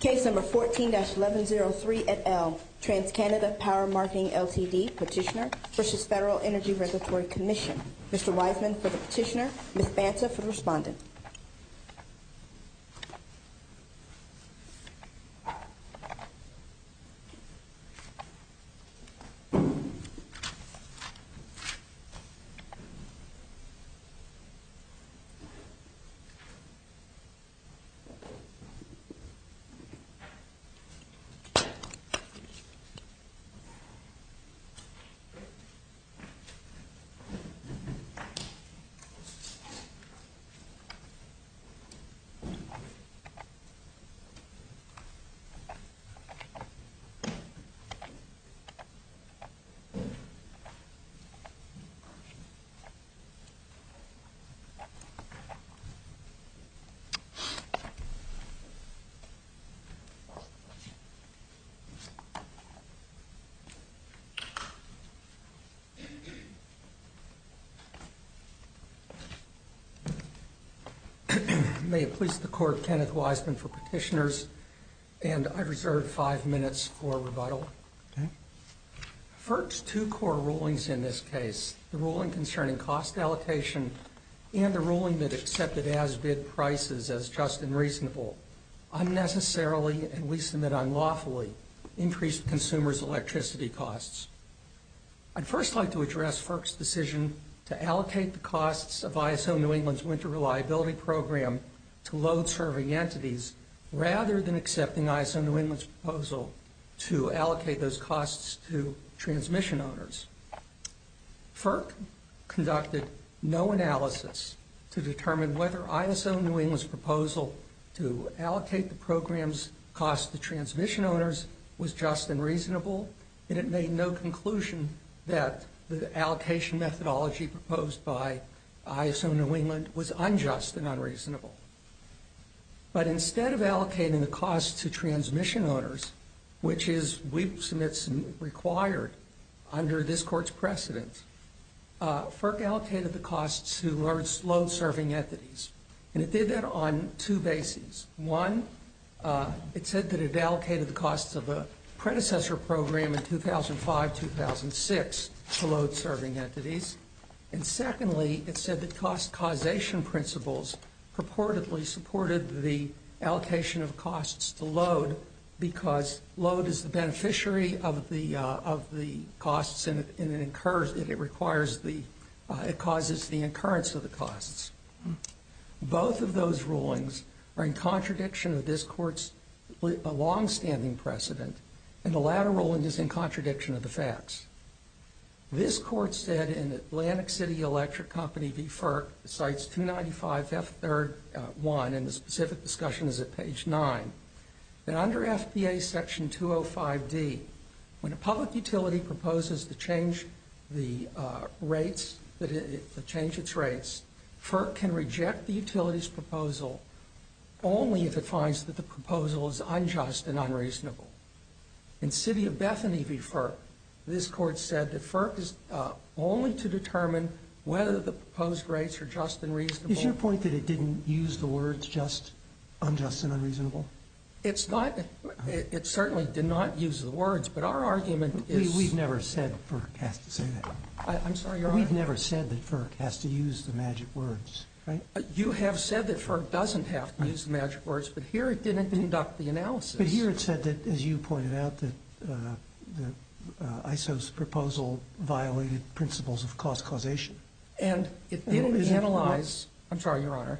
Case number 14-1103 et al. TransCanada Power Marketing Ltd. Petitioner v. Federal Energy Regulatory Commission. Mr. Wiseman for the petitioner, Ms. Banta for the respondent. Ms. Banta for the respondent. May it please the Court, Kenneth Wiseman for petitioners, and I reserve five minutes for rebuttal. FERC's two core rulings in this case, the ruling concerning cost allocation and the ruling that accepted as-bid prices as just and reasonable, unnecessarily and we submit unlawfully, increased consumers' electricity costs. I'd first like to address FERC's decision to allocate the costs of ISO New England's winter reliability program to load-serving entities rather than accepting ISO New England's proposal to allocate those costs to transmission owners. FERC conducted no analysis to determine whether ISO New England's proposal to allocate the program's costs to transmission owners was just and reasonable, and it made no conclusion that the allocation methodology proposed by ISO New England was unjust and unreasonable. But instead of allocating the costs to transmission owners, which is, we submit, required under this Court's precedent, FERC allocated the costs to load-serving entities, and it did that on two bases. One, it said that it allocated the costs of the predecessor program in 2005-2006 to load-serving entities, and secondly, it said that cost causation principles purportedly supported the allocation of costs to load because load is the beneficiary of the costs and it requires the, it causes the incurrence of the costs. Both of those rulings are in contradiction of this Court's longstanding precedent, and the latter ruling is in contradiction of the facts. This Court said in Atlantic City Electric Company v. FERC, Cites 295F3-1, and the specific discussion is at page 9, that under FBA Section 205D, when a public utility proposes to change the rates, to change its rates, FERC can reject the utility's proposal only if it finds that the proposal is unjust and unreasonable. In City of Bethany v. FERC, this Court said that FERC is only to determine whether the proposed rates are just and reasonable. Is your point that it didn't use the words just, unjust, and unreasonable? It's not. It certainly did not use the words, but our argument is. We've never said FERC has to say that. I'm sorry, Your Honor. We've never said that FERC has to use the magic words, right? You have said that FERC doesn't have to use the magic words, but here it didn't conduct the analysis. But here it said that, as you pointed out, that ISO's proposal violated principles of cost causation. And it didn't analyze. I'm sorry, Your Honor.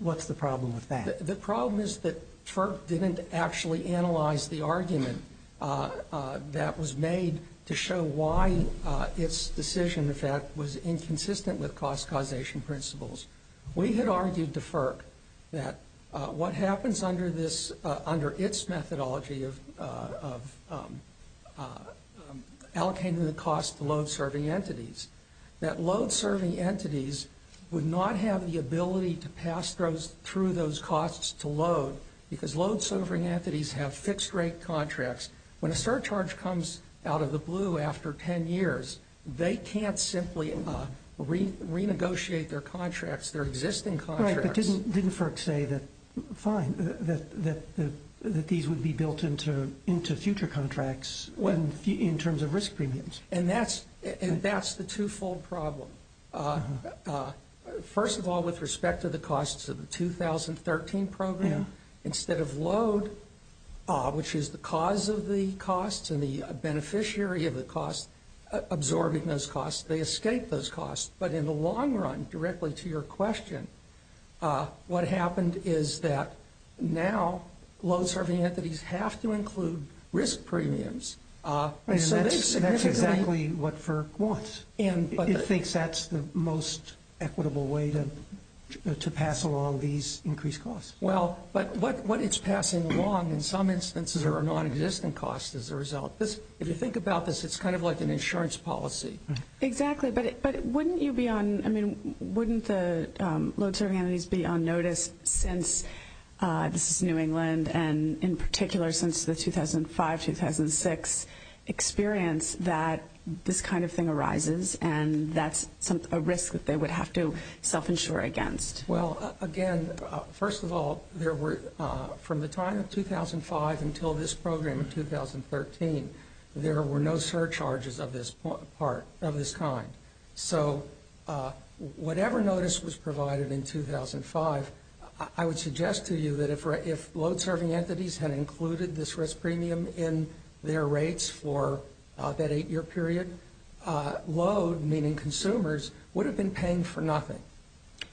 What's the problem with that? The problem is that FERC didn't actually analyze the argument that was made to show why its decision, in fact, was inconsistent with cost causation principles. We had argued to FERC that what happens under its methodology of allocating the cost to load-serving entities, that load-serving entities would not have the ability to pass through those costs to load because load-serving entities have fixed-rate contracts. When a surcharge comes out of the blue after 10 years, they can't simply renegotiate their contracts, their existing contracts. Right, but didn't FERC say that, fine, that these would be built into future contracts in terms of risk premiums? And that's the two-fold problem. First of all, with respect to the costs of the 2013 program, instead of load, which is the cause of the costs and the beneficiary of the costs absorbing those costs, they escape those costs. But in the long run, directly to your question, what happened is that now load-serving entities have to include risk premiums. And that's exactly what FERC wants. It thinks that's the most equitable way to pass along these increased costs. Well, but what it's passing along in some instances are non-existent costs as a result. If you think about this, it's kind of like an insurance policy. Exactly, but wouldn't you be on, I mean, wouldn't the load-serving entities be on notice since this is New England, and in particular since the 2005-2006 experience that this kind of thing arises, and that's a risk that they would have to self-insure against? Well, again, first of all, from the time of 2005 until this program in 2013, there were no surcharges of this kind. So whatever notice was provided in 2005, I would suggest to you that if load-serving entities had included this risk premium in their rates for that eight-year period, load, meaning consumers, would have been paying for nothing.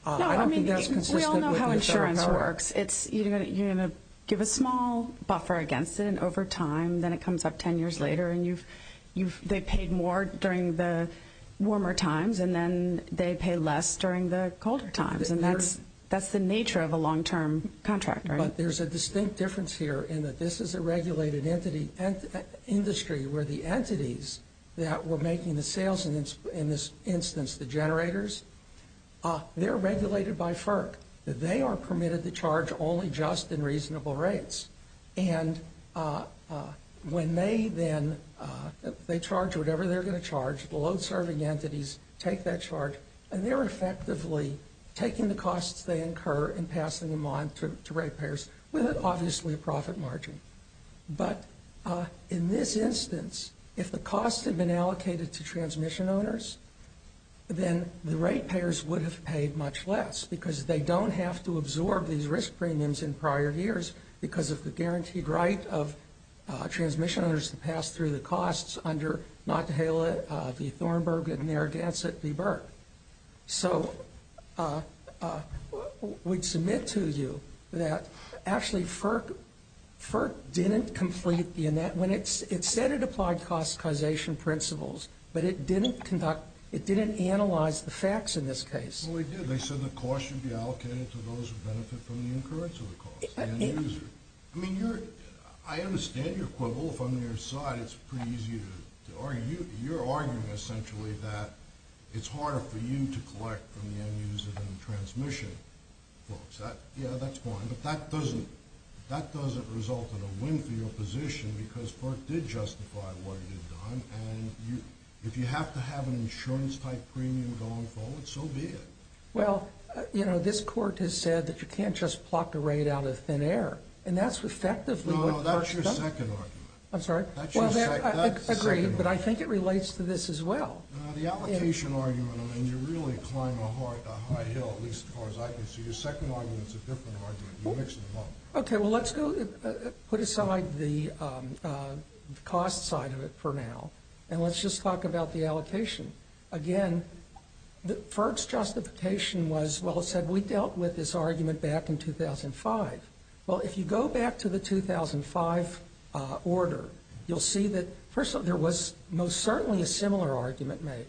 No, I mean, we all know how insurance works. You're going to give a small buffer against it, and over time, then it comes up 10 years later, and they paid more during the warmer times, and then they pay less during the colder times. And that's the nature of a long-term contract, right? But there's a distinct difference here in that this is a regulated industry where the entities that were making the sales, in this instance, the generators, they're regulated by FERC. They are permitted to charge only just and reasonable rates, and when they then charge whatever they're going to charge, the load-serving entities take that charge, and they're effectively taking the costs they incur and passing them on to rate payers with, obviously, a profit margin. But in this instance, if the costs had been allocated to transmission owners, then the rate payers would have paid much less because they don't have to absorb these risk premiums in prior years because of the guaranteed right of transmission owners to pass through the costs under Notte-Halle v. Thornburg and Narragansett v. Burke. So we'd submit to you that actually FERC didn't complete the—it said it applied cost causation principles, but it didn't conduct—it didn't analyze the facts in this case. Well, it did. They said the costs should be allocated to those who benefit from the incurrence of the cost and the user. I mean, I understand your quibble. If I'm on your side, it's pretty easy to argue. You're arguing, essentially, that it's harder for you to collect from the end-user than the transmission folks. Yeah, that's fine, but that doesn't result in a win for your position because FERC did justify what it had done, and if you have to have an insurance-type premium going forward, so be it. Well, you know, this Court has said that you can't just pluck a rate out of thin air, and that's effectively what FERC does. No, no, no, that's your second argument. I'm sorry? Well, I agree, but I think it relates to this as well. The allocation argument, I mean, you're really climbing a high hill, at least as far as I can see. Your second argument's a different argument. You're mixing them up. Okay, well, let's go put aside the cost side of it for now, and let's just talk about the allocation. Again, FERC's justification was, well, it said we dealt with this argument back in 2005. Well, if you go back to the 2005 order, you'll see that, first of all, there was most certainly a similar argument made,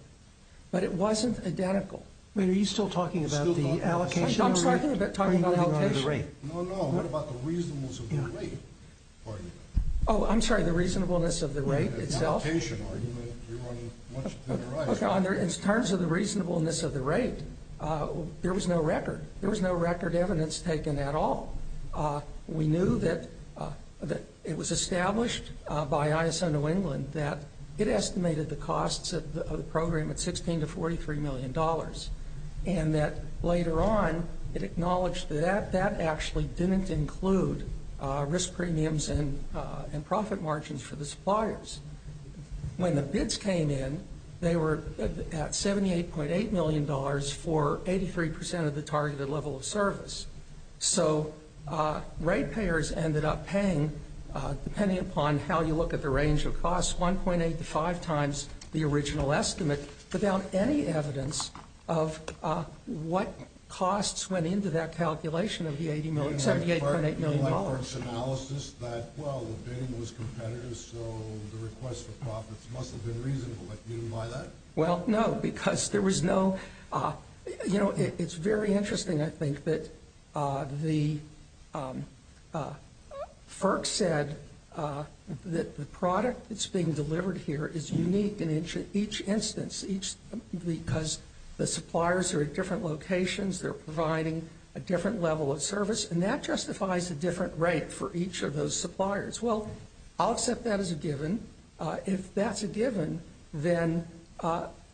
but it wasn't identical. Wait, are you still talking about the allocation? I'm talking about the allocation. No, no, what about the reasonableness of the rate argument? Oh, I'm sorry, the reasonableness of the rate itself? The allocation argument, you're running much to the right. In terms of the reasonableness of the rate, there was no record. There was no record evidence taken at all. We knew that it was established by ISO New England that it estimated the costs of the program at $16 to $43 million, and that later on it acknowledged that that actually didn't include risk premiums and profit margins for the suppliers. When the bids came in, they were at $78.8 million for 83% of the targeted level of service. So ratepayers ended up paying, depending upon how you look at the range of costs, 1.8 to 5 times the original estimate without any evidence of what costs went into that calculation of the $78.8 million. Is there any knowledge analysis that, well, the bidding was competitive, so the request for profits must have been reasonable? You didn't buy that? Well, no, because there was no – you know, it's very interesting, I think, that the – FERC said that the product that's being delivered here is unique in each instance, because the suppliers are at different locations, they're providing a different level of service, and that justifies a different rate for each of those suppliers. Well, I'll accept that as a given. If that's a given, then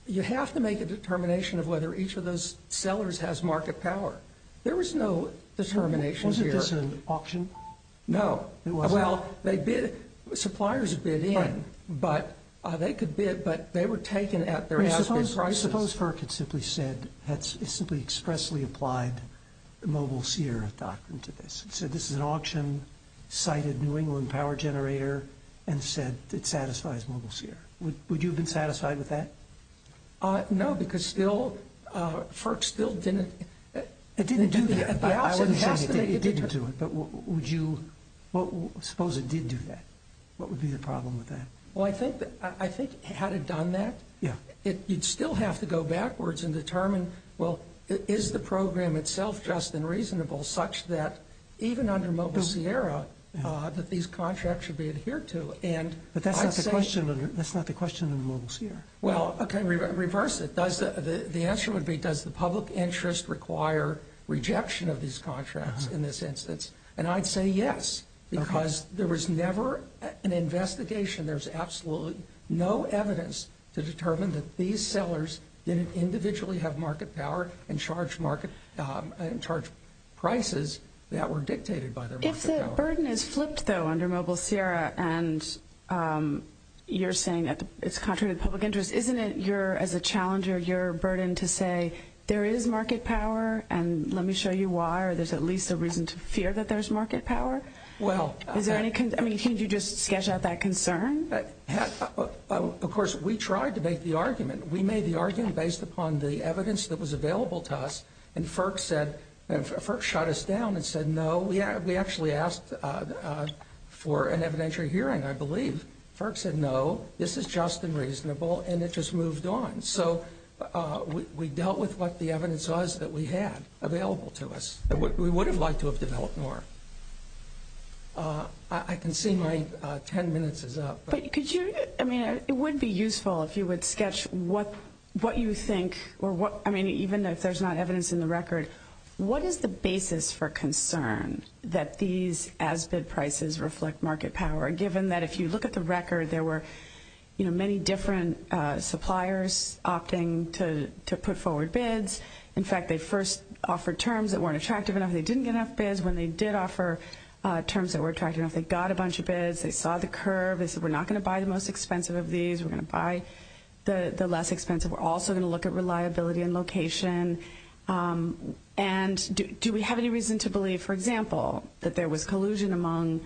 you have to make a determination of whether each of those sellers has market power. There was no determination here. Wasn't this an auction? No. Well, they bid – suppliers bid in, but they could bid, but they were taken at their asking prices. Suppose FERC had simply said – had simply expressly applied the Mobile Sierra doctrine to this. It said this is an auction, cited New England Power Generator, and said it satisfies Mobile Sierra. Would you have been satisfied with that? No, because still – FERC still didn't – It didn't do that. I wouldn't say it didn't do it, but would you – suppose it did do that. What would be the problem with that? Well, I think had it done that, you'd still have to go backwards and determine, well, is the program itself just and reasonable such that even under Mobile Sierra that these contracts should be adhered to? But that's not the question under Mobile Sierra. Well, okay, reverse it. The answer would be, does the public interest require rejection of these contracts in this instance? And I'd say yes, because there was never an investigation. There's absolutely no evidence to determine that these sellers didn't individually have market power and charge prices that were dictated by their market power. If the burden is flipped, though, under Mobile Sierra and you're saying it's contrary to the public interest, isn't it your – as a challenger, your burden to say there is market power and let me show you why or there's at least a reason to fear that there's market power? Is there any – I mean, can't you just sketch out that concern? Of course, we tried to make the argument. We made the argument based upon the evidence that was available to us, and FERC shut us down and said no. We actually asked for an evidentiary hearing, I believe. FERC said no, this is just and reasonable, and it just moved on. So we dealt with what the evidence was that we had available to us. We would have liked to have developed more. I can see my 10 minutes is up. But could you – I mean, it would be useful if you would sketch what you think or what – I mean, even if there's not evidence in the record, what is the basis for concern that these as-bid prices reflect market power, given that if you look at the record, there were many different suppliers opting to put forward bids. In fact, they first offered terms that weren't attractive enough. They didn't get enough bids. When they did offer terms that were attractive enough, they got a bunch of bids. They saw the curve. They said we're not going to buy the most expensive of these. We're going to buy the less expensive. We're also going to look at reliability and location. And do we have any reason to believe, for example, that there was collusion among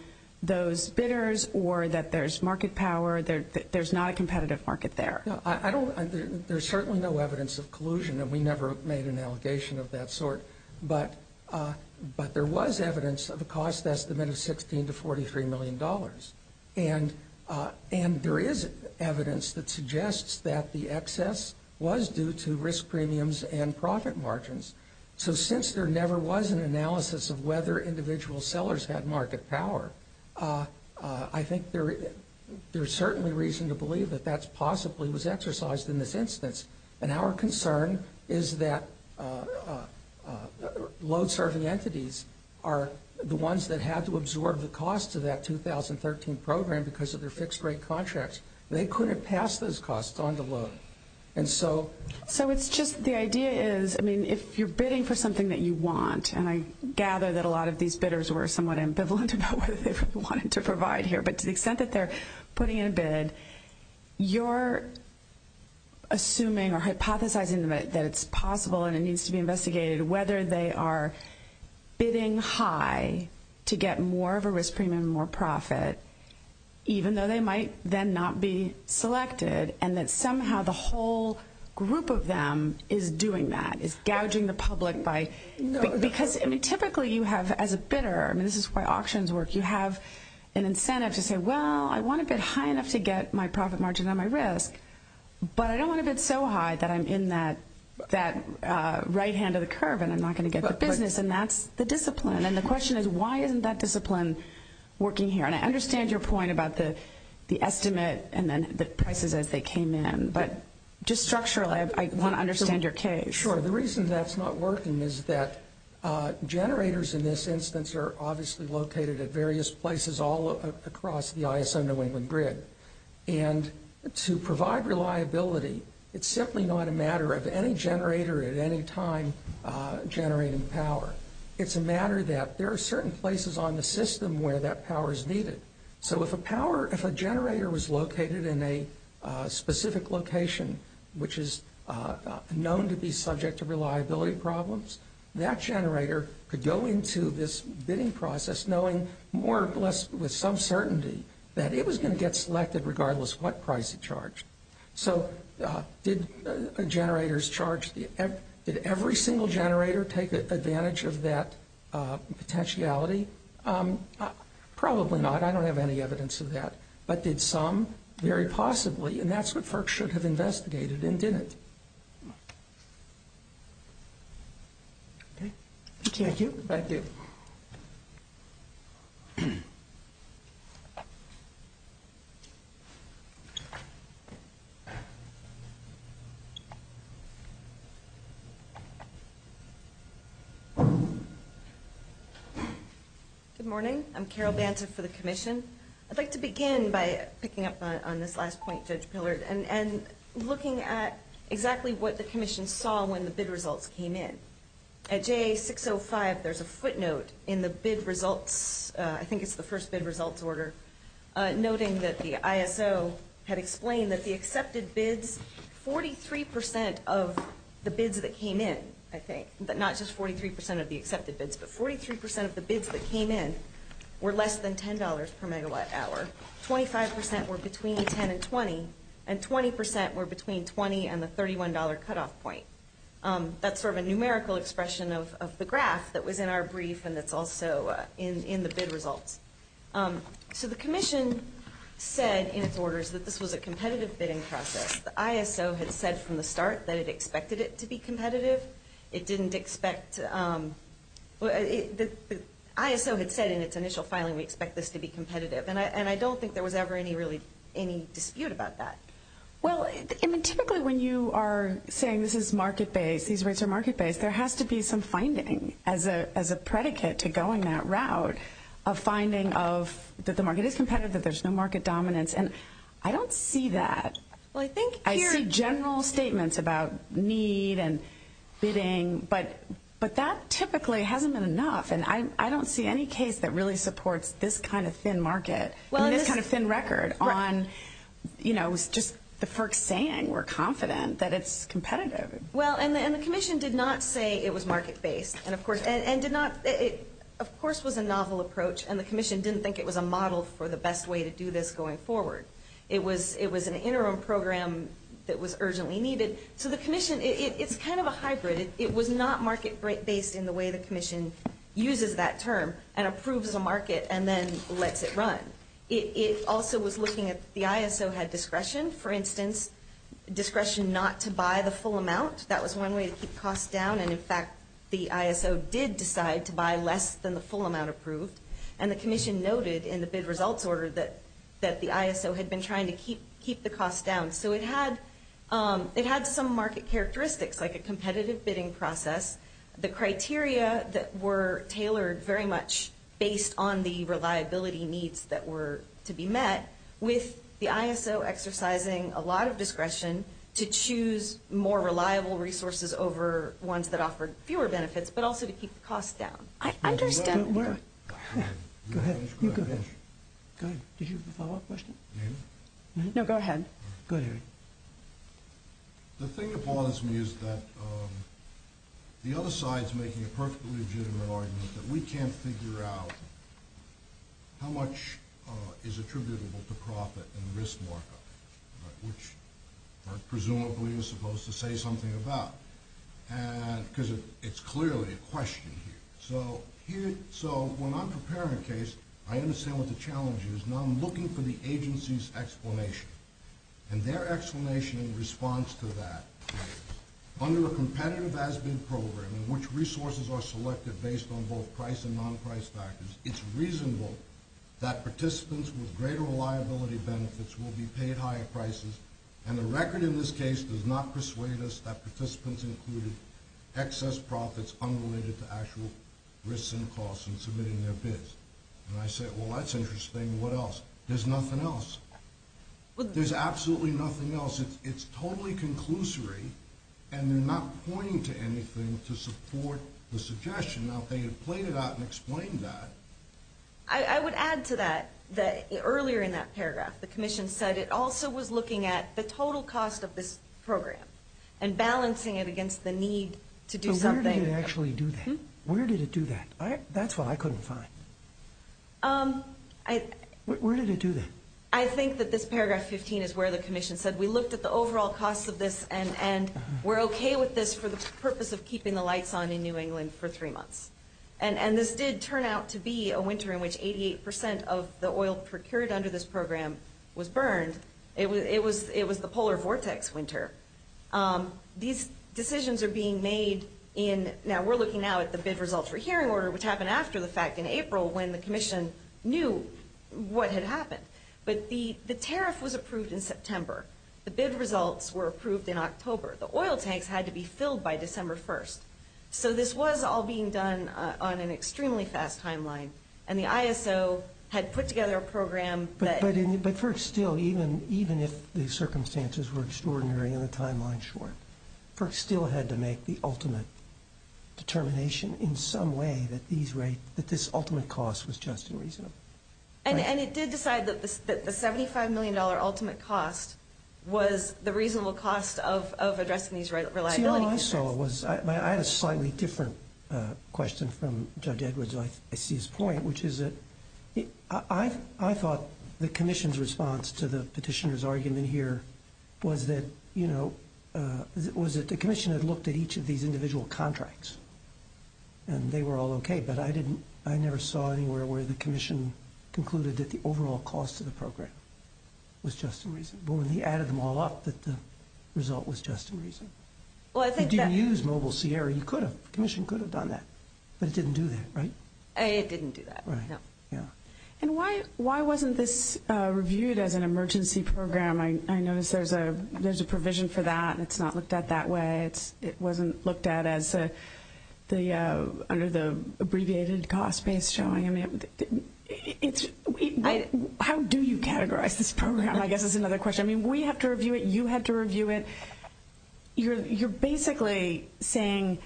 those bidders or that there's market power, that there's not a competitive market there? I don't – there's certainly no evidence of collusion, and we never made an allegation of that sort. But there was evidence of a cost estimate of $16 to $43 million. And there is evidence that suggests that the excess was due to risk premiums and profit margins. So since there never was an analysis of whether individual sellers had market power, I think there's certainly reason to believe that that possibly was exercised in this instance. And our concern is that load-serving entities are the ones that had to absorb the cost of that 2013 program because of their fixed-rate contracts. They couldn't pass those costs on to load. And so – So it's just – the idea is, I mean, if you're bidding for something that you want, and I gather that a lot of these bidders were somewhat ambivalent about what they really wanted to provide here, but to the extent that they're putting in a bid, you're assuming or hypothesizing that it's possible and it needs to be investigated whether they are bidding high to get more of a risk premium and more profit, even though they might then not be selected, and that somehow the whole group of them is doing that, is gouging the public by – because, I mean, typically you have, as a bidder – I mean, this is why auctions work – you have an incentive to say, well, I want a bid high enough to get my profit margin on my risk, but I don't want a bid so high that I'm in that right hand of the curve and I'm not going to get the business, and that's the discipline. And the question is, why isn't that discipline working here? And I understand your point about the estimate and then the prices as they came in, but just structurally, I want to understand your case. Sure. The reason that's not working is that generators in this instance are obviously located at various places all across the ISO New England grid, and to provide reliability, it's simply not a matter of any generator at any time generating power. It's a matter that there are certain places on the system where that power is needed. So if a power – if a generator was located in a specific location, which is known to be subject to reliability problems, that generator could go into this bidding process knowing more or less with some certainty that it was going to get selected regardless of what price it charged. So did generators charge – did every single generator take advantage of that potentiality? Probably not. I don't have any evidence of that. But did some? Very possibly. And that's what FERC should have investigated and didn't. Okay. Thank you. Thank you. Good morning. I'm Carol Banta for the Commission. I'd like to begin by picking up on this last point, Judge Pillard, and looking at exactly what the Commission saw when the bid results came in. At JA605, there's a footnote in the bid results – I think it's the first bid results order – noting that the ISO had explained that the accepted bids, 43% of the bids that came in, I think, not just 43% of the accepted bids, but 43% of the bids that came in were less than $10 per megawatt hour. 25% were between $10 and $20, and 20% were between $20 and the $31 cutoff point. That's sort of a numerical expression of the graph that was in our brief and that's also in the bid results. So the Commission said in its orders that this was a competitive bidding process. The ISO had said from the start that it expected it to be competitive. It didn't expect – the ISO had said in its initial filing we expect this to be competitive, and I don't think there was ever any dispute about that. Well, typically when you are saying this is market-based, these rates are market-based, there has to be some finding as a predicate to going that route of finding that the market is competitive, that there's no market dominance, and I don't see that. I see general statements about need and bidding, but that typically hasn't been enough, and I don't see any case that really supports this kind of thin market, this kind of thin record, on just the FERC saying we're confident that it's competitive. Well, and the Commission did not say it was market-based, and of course was a novel approach, and the Commission didn't think it was a model for the best way to do this going forward. It was an interim program that was urgently needed. So the Commission – it's kind of a hybrid. It was not market-based in the way the Commission uses that term and approves a market and then lets it run. It also was looking at – the ISO had discretion, for instance, discretion not to buy the full amount. That was one way to keep costs down, and in fact the ISO did decide to buy less than the full amount approved, and the Commission noted in the bid results order that the ISO had been trying to keep the costs down. So it had some market characteristics, like a competitive bidding process, the criteria that were tailored very much based on the reliability needs that were to be met, with the ISO exercising a lot of discretion to choose more reliable resources over ones that offered fewer benefits, but also to keep the costs down. I understand. Go ahead. Go ahead. You go ahead. Go ahead. Did you have a follow-up question? No, go ahead. Go ahead. The thing that bothers me is that the other side is making a perfectly legitimate argument that we can't figure out how much is attributable to profit and risk markup, which presumably you're supposed to say something about, because it's clearly a question here. So when I'm preparing a case, I understand what the challenge is, and I'm looking for the agency's explanation, and their explanation in response to that. Under a competitive as-bid program in which resources are selected based on both price and non-price factors, it's reasonable that participants with greater reliability benefits will be paid higher prices, and the record in this case does not persuade us that participants included excess profits unrelated to actual risks and costs in submitting their bids. And I say, well, that's interesting. What else? There's nothing else. There's absolutely nothing else. It's totally conclusory, and they're not pointing to anything to support the suggestion. Now, if they had played it out and explained that. I would add to that that earlier in that paragraph the commission said it also was looking at the total cost of this program and balancing it against the need to do something. Where did it actually do that? Where did it do that? That's what I couldn't find. Where did it do that? I think that this paragraph 15 is where the commission said we looked at the overall cost of this and we're okay with this for the purpose of keeping the lights on in New England for three months. And this did turn out to be a winter in which 88% of the oil procured under this program was burned. It was the polar vortex winter. These decisions are being made in, now we're looking now at the bid results for hearing order, which happened after the fact in April when the commission knew what had happened. But the tariff was approved in September. The bid results were approved in October. The oil tanks had to be filled by December 1st. So this was all being done on an extremely fast timeline. And the ISO had put together a program that. But FERC still, even if the circumstances were extraordinary and the timeline short, FERC still had to make the ultimate determination in some way that this ultimate cost was just and reasonable. And it did decide that the $75 million ultimate cost was the reasonable cost of addressing these reliability concerns. See, what I saw was, I had a slightly different question from Judge Edwards, I see his point, which is that I thought the commission's response to the petitioner's argument here was that, you know, was that the commission had looked at each of these individual contracts. And they were all okay. But I didn't, I never saw anywhere where the commission concluded that the overall cost of the program was just and reasonable. And he added them all up that the result was just and reasonable. If you didn't use Mobile Sierra, you could have, the commission could have done that. But it didn't do that, right? It didn't do that, no. And why wasn't this reviewed as an emergency program? I notice there's a provision for that, and it's not looked at that way. It wasn't looked at as the, under the abbreviated cost-based showing. I mean, how do you categorize this program? I guess that's another question. I mean, we have to review it, you have to review it. You're basically saying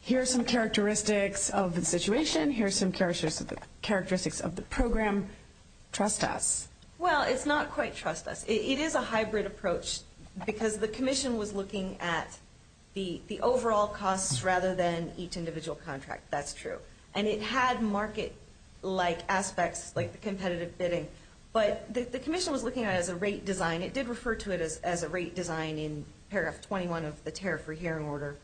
here are some characteristics of the situation, here are some characteristics of the program, trust us. Well, it's not quite trust us. It is a hybrid approach because the commission was looking at the overall costs rather than each individual contract. That's true. And it had market-like aspects like the competitive bidding. But the commission was looking at it as a rate design. It did refer to it as a rate design in paragraph 21 of the tariff-free hearing order.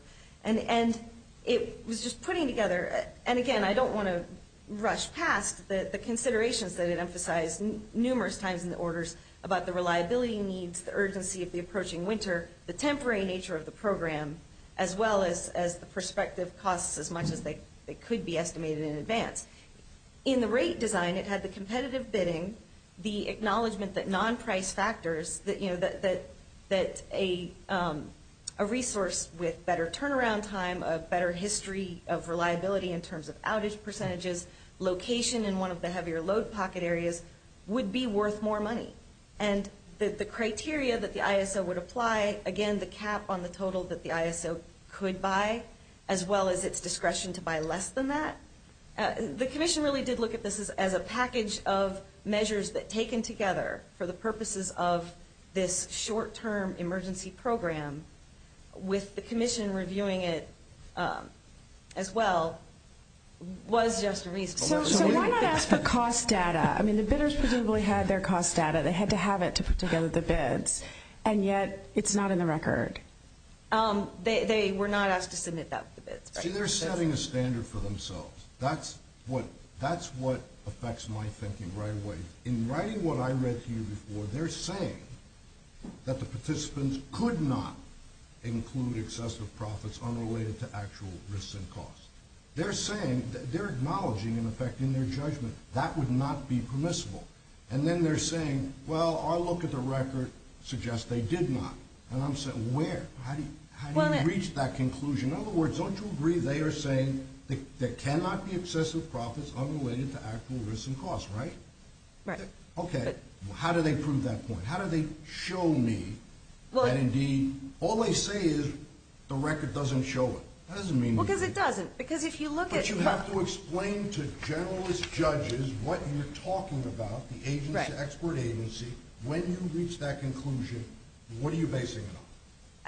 And it was just putting together, and again, I don't want to rush past the considerations that it emphasized numerous times in the orders about the reliability needs, the urgency of the approaching winter, the temporary nature of the program, as well as the prospective costs as much as they could be estimated in advance. In the rate design, it had the competitive bidding, the acknowledgement that non-price factors, that a resource with better turnaround time, a better history of reliability in terms of outage percentages, location in one of the heavier load pocket areas would be worth more money. And the criteria that the ISO would apply, again, the cap on the total that the ISO could buy, as well as its discretion to buy less than that. The commission really did look at this as a package of measures that, taken together for the purposes of this short-term emergency program, with the commission reviewing it as well, was just reasonable. So why not ask for cost data? I mean, the bidders presumably had their cost data. They had to have it to put together the bids. And yet, it's not in the record. They were not asked to submit that with the bids. See, they're setting a standard for themselves. That's what affects my thinking right away. In writing what I read to you before, they're saying that the participants could not include excessive profits unrelated to actual risks and costs. They're saying, they're acknowledging, in effect, in their judgment, that would not be permissible. And then they're saying, well, our look at the record suggests they did not. And I'm saying, where? How do you reach that conclusion? In other words, don't you agree they are saying there cannot be excessive profits unrelated to actual risks and costs, right? Right. Okay. How do they prove that point? How do they show me that, indeed, all they say is the record doesn't show it? Well, because it doesn't. Because if you look at it, look. But you have to explain to generalist judges what you're talking about, the expert agency. When you reach that conclusion, what are you basing it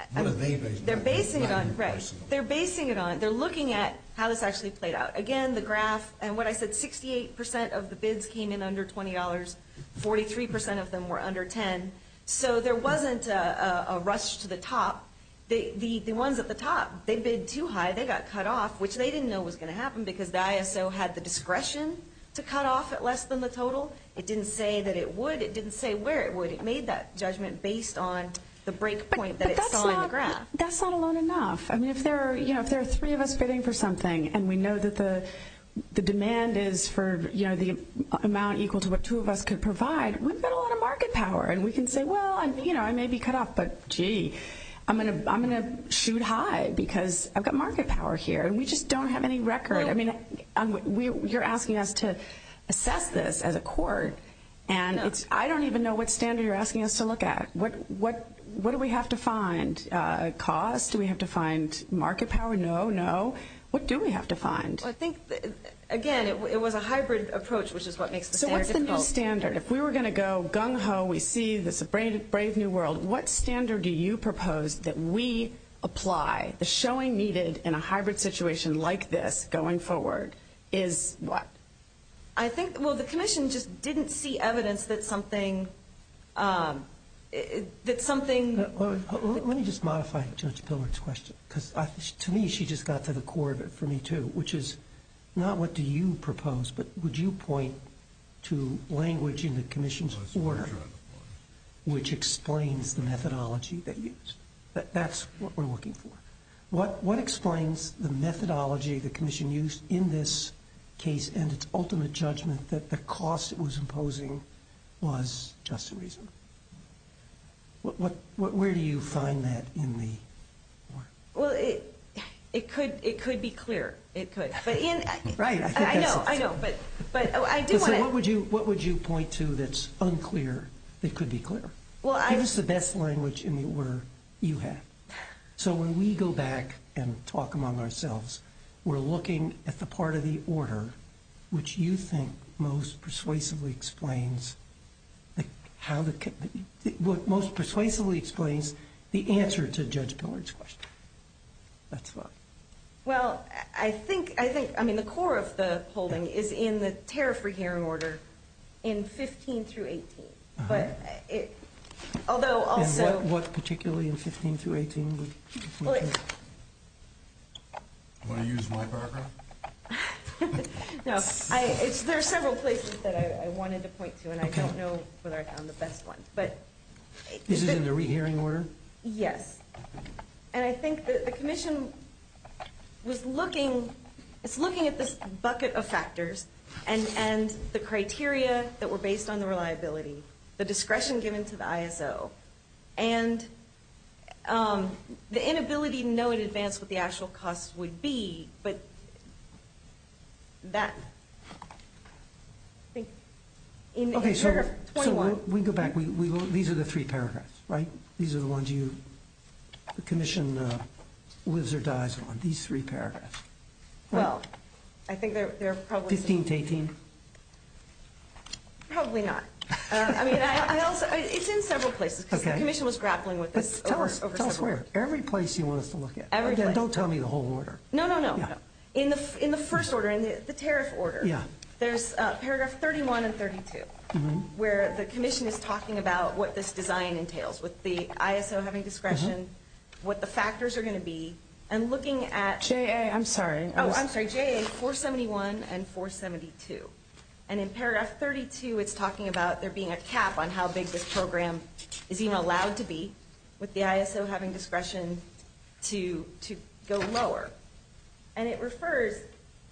on? What are they basing it on? They're basing it on, right. They're basing it on, they're looking at how this actually played out. Again, the graph, and what I said, 68% of the bids came in under $20. 43% of them were under $10. So there wasn't a rush to the top. The ones at the top, they bid too high. They got cut off, which they didn't know was going to happen because the ISO had the discretion to cut off at less than the total. It didn't say that it would. It didn't say where it would. It made that judgment based on the break point that it saw in the graph. But that's not alone enough. I mean, if there are three of us bidding for something, and we know that the demand is for, you know, the amount equal to what two of us could provide, we've got a lot of market power. And we can say, well, you know, I may be cut off, but, gee, I'm going to shoot high because I've got market power here. And we just don't have any record. I mean, you're asking us to assess this as a court. And I don't even know what standard you're asking us to look at. What do we have to find? Cost? Do we have to find market power? No. No. What do we have to find? Well, I think, again, it was a hybrid approach, which is what makes the standard difficult. So what's the new standard? If we were going to go gung-ho, we see this brave new world, what standard do you propose that we apply? The showing needed in a hybrid situation like this going forward is what? I think, well, the commission just didn't see evidence that something. Let me just modify Judge Pillard's question because, to me, she just got to the core of it for me, too, which is not what do you propose, but would you point to language in the commission's order which explains the methodology they used? That's what we're looking for. What explains the methodology the commission used in this case and its ultimate judgment that the cost it was imposing was just a reason? Where do you find that in the order? Well, it could be clear. It could. Right. I know. I know. So what would you point to that's unclear that could be clear? Give us the best language in the order you have. So when we go back and talk among ourselves, we're looking at the part of the order which you think most persuasively explains the answer to Judge Pillard's question. Well, I think, I mean, the core of the holding is in the tariff-free hearing order in 15 through 18. And what particularly in 15 through 18 would you point to? Do you want to use my background? No. There are several places that I wanted to point to, and I don't know whether I found the best one. This is in the re-hearing order? Yes. And I think the commission was looking, is looking at this bucket of factors and the criteria that were based on the reliability, the discretion given to the ISO, and the inability to know in advance what the actual cost would be, but that, I think, in paragraph 21. Okay, so we go back. These are the three paragraphs, right? These are the ones you, the commission lives or dies on, these three paragraphs. Well, I think they're probably. 15 to 18? Probably not. I mean, I also, it's in several places because the commission was grappling with this over several. Tell us where. Every place you want us to look at. Every place. Again, don't tell me the whole order. No, no, no. In the first order, in the tariff order. Yeah. There's paragraph 31 and 32, where the commission is talking about what this design entails, with the ISO having discretion, what the factors are going to be, and looking at. JA, I'm sorry. Oh, I'm sorry, JA 471 and 472. And in paragraph 32, it's talking about there being a cap on how big this program is even allowed to be, with the ISO having discretion to go lower. And it refers,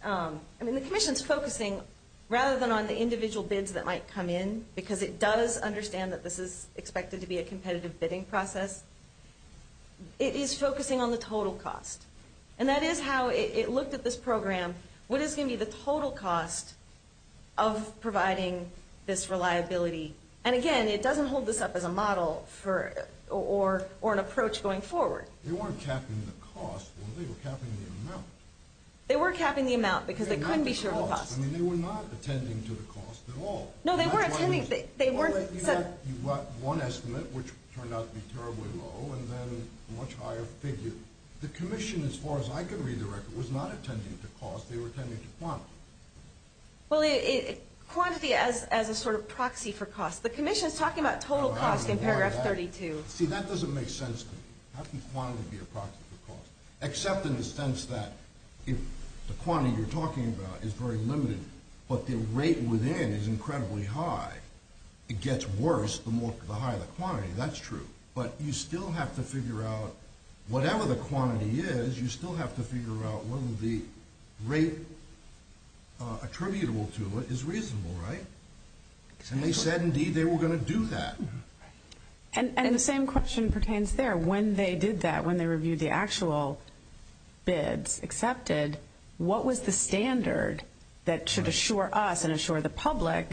I mean, the commission's focusing, rather than on the individual bids that might come in, because it does understand that this is expected to be a competitive bidding process, it is focusing on the total cost. And that is how it looked at this program, what is going to be the total cost of providing this reliability. And again, it doesn't hold this up as a model for, or an approach going forward. They weren't capping the cost. They were capping the amount. They were capping the amount, because they couldn't be sure of the cost. I mean, they were not attending to the cost at all. No, they were attending. You've got one estimate, which turned out to be terribly low, and then a much higher figure. The commission, as far as I can read the record, was not attending to cost. They were attending to quantity. Well, quantity as a sort of proxy for cost. The commission's talking about total cost in paragraph 32. See, that doesn't make sense to me. How can quantity be a proxy for cost? Except in the sense that the quantity you're talking about is very limited, but the rate within is incredibly high. It gets worse the higher the quantity. That's true. But you still have to figure out, whatever the quantity is, you still have to figure out whether the rate attributable to it is reasonable, right? And they said, indeed, they were going to do that. And the same question pertains there. When they did that, when they reviewed the actual bids accepted, what was the standard that should assure us and assure the public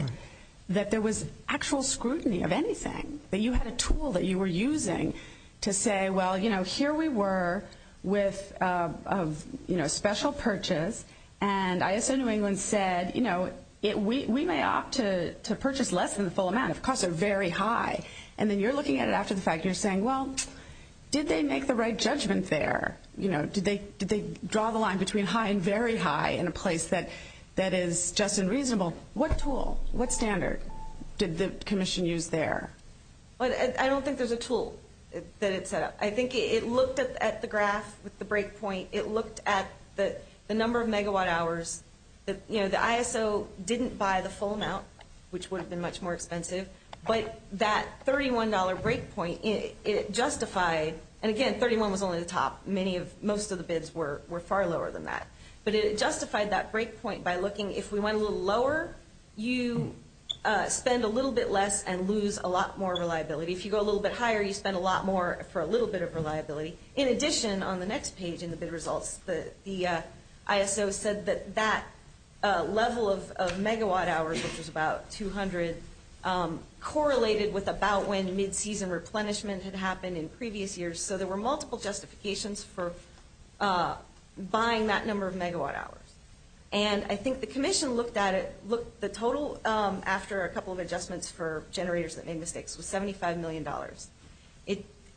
that there was actual scrutiny of anything? That you had a tool that you were using to say, well, you know, here we were with a special purchase, and ISO New England said, you know, we may opt to purchase less than the full amount if costs are very high. And then you're looking at it after the fact, and you're saying, well, did they make the right judgment there? You know, did they draw the line between high and very high in a place that is just and reasonable? What tool, what standard did the commission use there? I don't think there's a tool that it set up. I think it looked at the graph with the breakpoint. It looked at the number of megawatt hours. You know, the ISO didn't buy the full amount, which would have been much more expensive. But that $31 breakpoint, it justified, and again, 31 was only the top. Most of the bids were far lower than that. But it justified that breakpoint by looking, if we went a little lower, you spend a little bit less and lose a lot more reliability. If you go a little bit higher, you spend a lot more for a little bit of reliability. In addition, on the next page in the bid results, the ISO said that that level of megawatt hours, which was about 200, correlated with about when mid-season replenishment had happened in previous years. So there were multiple justifications for buying that number of megawatt hours. And I think the commission looked at it, the total after a couple of adjustments for generators that made mistakes was $75 million.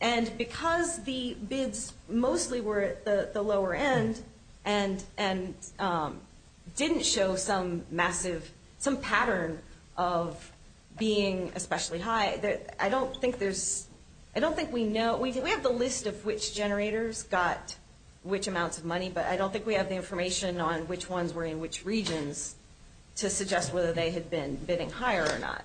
And because the bids mostly were at the lower end and didn't show some massive, some pattern of being especially high, I don't think there's, I don't think we know, we have the list of which generators got which amounts of money, but I don't think we have the information on which ones were in which regions to suggest whether they had been bidding higher or not.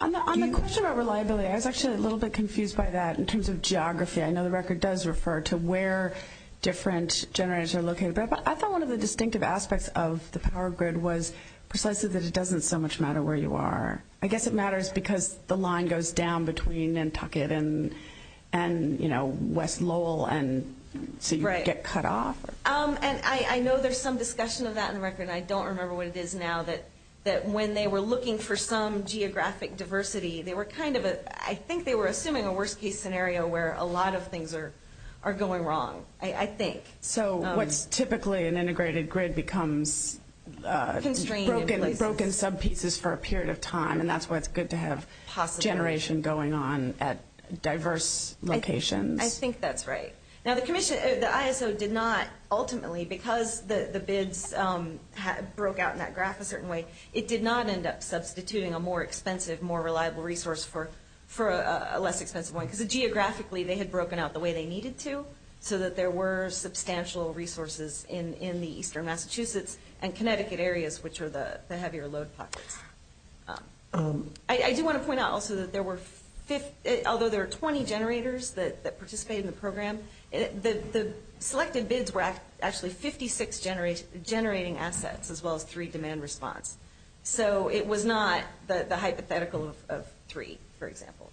On the question about reliability, I was actually a little bit confused by that in terms of geography. I know the record does refer to where different generators are located, but I thought one of the distinctive aspects of the power grid was precisely that it doesn't so much matter where you are. I guess it matters because the line goes down between Nantucket and, you know, West Lowell, and so you get cut off. And I know there's some discussion of that in the record, and I don't remember what it is now, that when they were looking for some geographic diversity, they were kind of, I think they were assuming a worst-case scenario where a lot of things are going wrong, I think. So what's typically an integrated grid becomes broken sub-pieces for a period of time, and that's why it's good to have generation going on at diverse locations. I think that's right. Now the commission, the ISO did not ultimately, because the bids broke out in that graph a certain way, it did not end up substituting a more expensive, more reliable resource for a less expensive one, because geographically they had broken out the way they needed to, so that there were substantial resources in the eastern Massachusetts and Connecticut areas, which are the heavier load pockets. I do want to point out also that there were, although there were 20 generators that participated in the program, the selected bids were actually 56 generating assets as well as three demand response. So it was not the hypothetical of three, for example.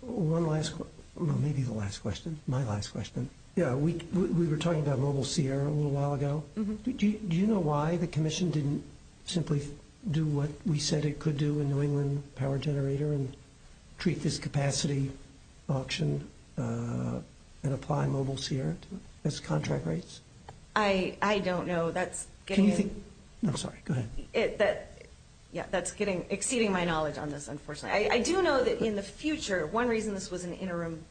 One last, well, maybe the last question, my last question. We were talking about Mobile Sierra a little while ago. Do you know why the commission didn't simply do what we said it could do in New England, power generator, and treat this capacity auction and apply Mobile Sierra to its contract rates? I don't know. No, sorry, go ahead. Yeah, that's exceeding my knowledge on this, unfortunately. I do know that in the future, one reason this was an interim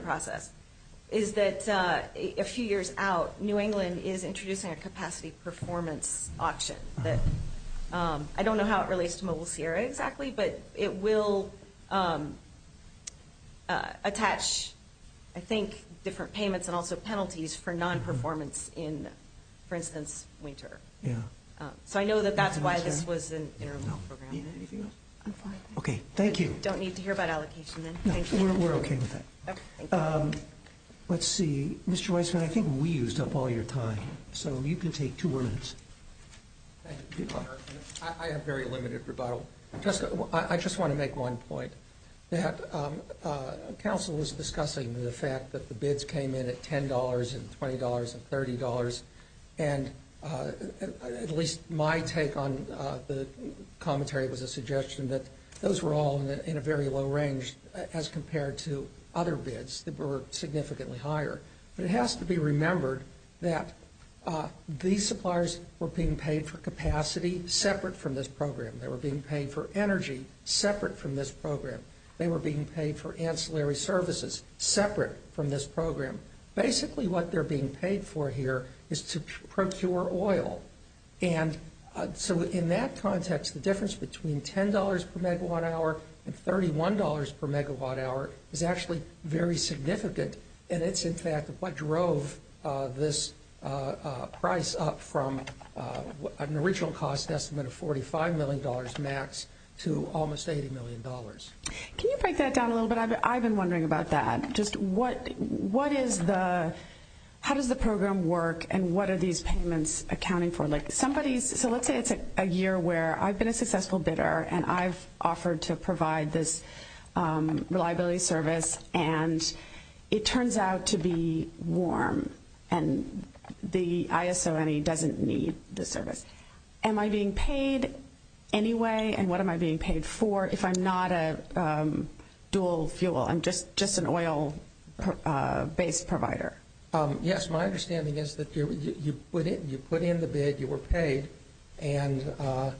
process is that a few years out, New England is introducing a capacity performance auction. I don't know how it relates to Mobile Sierra exactly, but it will attach, I think, different payments and also penalties for non-performance in, for instance, winter. Yeah. So I know that that's why this was an interim program. Anything else? I'm fine. Okay, thank you. Don't need to hear about allocation then. No, we're okay with that. Okay, thank you. Let's see. Mr. Weisman, I think we used up all your time, so you can take two more minutes. Thank you. I have very limited rebuttal. I just want to make one point. Council was discussing the fact that the bids came in at $10 and $20 and $30, and at least my take on the commentary was a suggestion that those were all in a very low range as compared to other bids that were significantly higher. But it has to be remembered that these suppliers were being paid for capacity separate from this program. They were being paid for energy separate from this program. They were being paid for ancillary services separate from this program. Basically what they're being paid for here is to procure oil. And so in that context, the difference between $10 per megawatt hour and $31 per megawatt hour is actually very significant, and it's in fact what drove this price up from an original cost estimate of $45 million max to almost $80 million. Can you break that down a little bit? I've been wondering about that. How does the program work, and what are these payments accounting for? So let's say it's a year where I've been a successful bidder and I've offered to provide this reliability service, and it turns out to be warm, and the ISONE doesn't need the service. Am I being paid anyway, and what am I being paid for if I'm not a dual fuel, I'm just an oil-based provider? Yes, my understanding is that you put in the bid, you were paid, and that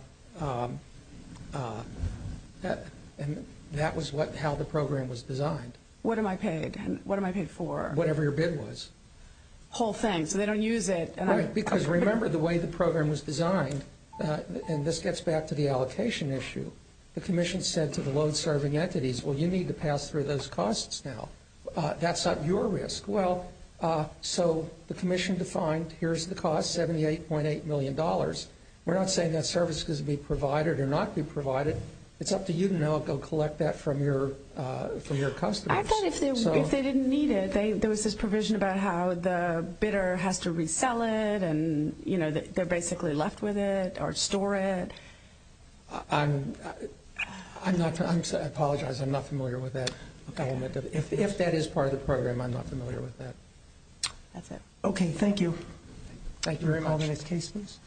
was how the program was designed. What am I paid? What am I paid for? Whatever your bid was. Whole thing, so they don't use it. Right, because remember the way the program was designed, and this gets back to the allocation issue, the commission said to the load-serving entities, well, you need to pass through those costs now. That's at your risk. Well, so the commission defined, here's the cost, $78.8 million. We're not saying that service is going to be provided or not be provided. It's up to you to know it. Go collect that from your customers. I thought if they didn't need it, there was this provision about how the bidder has to resell it, and, you know, they're basically left with it or store it. I apologize. I'm not familiar with that element. If that is part of the program, I'm not familiar with that. That's it. Okay, thank you. Thank you very much. Can we call the next case, please?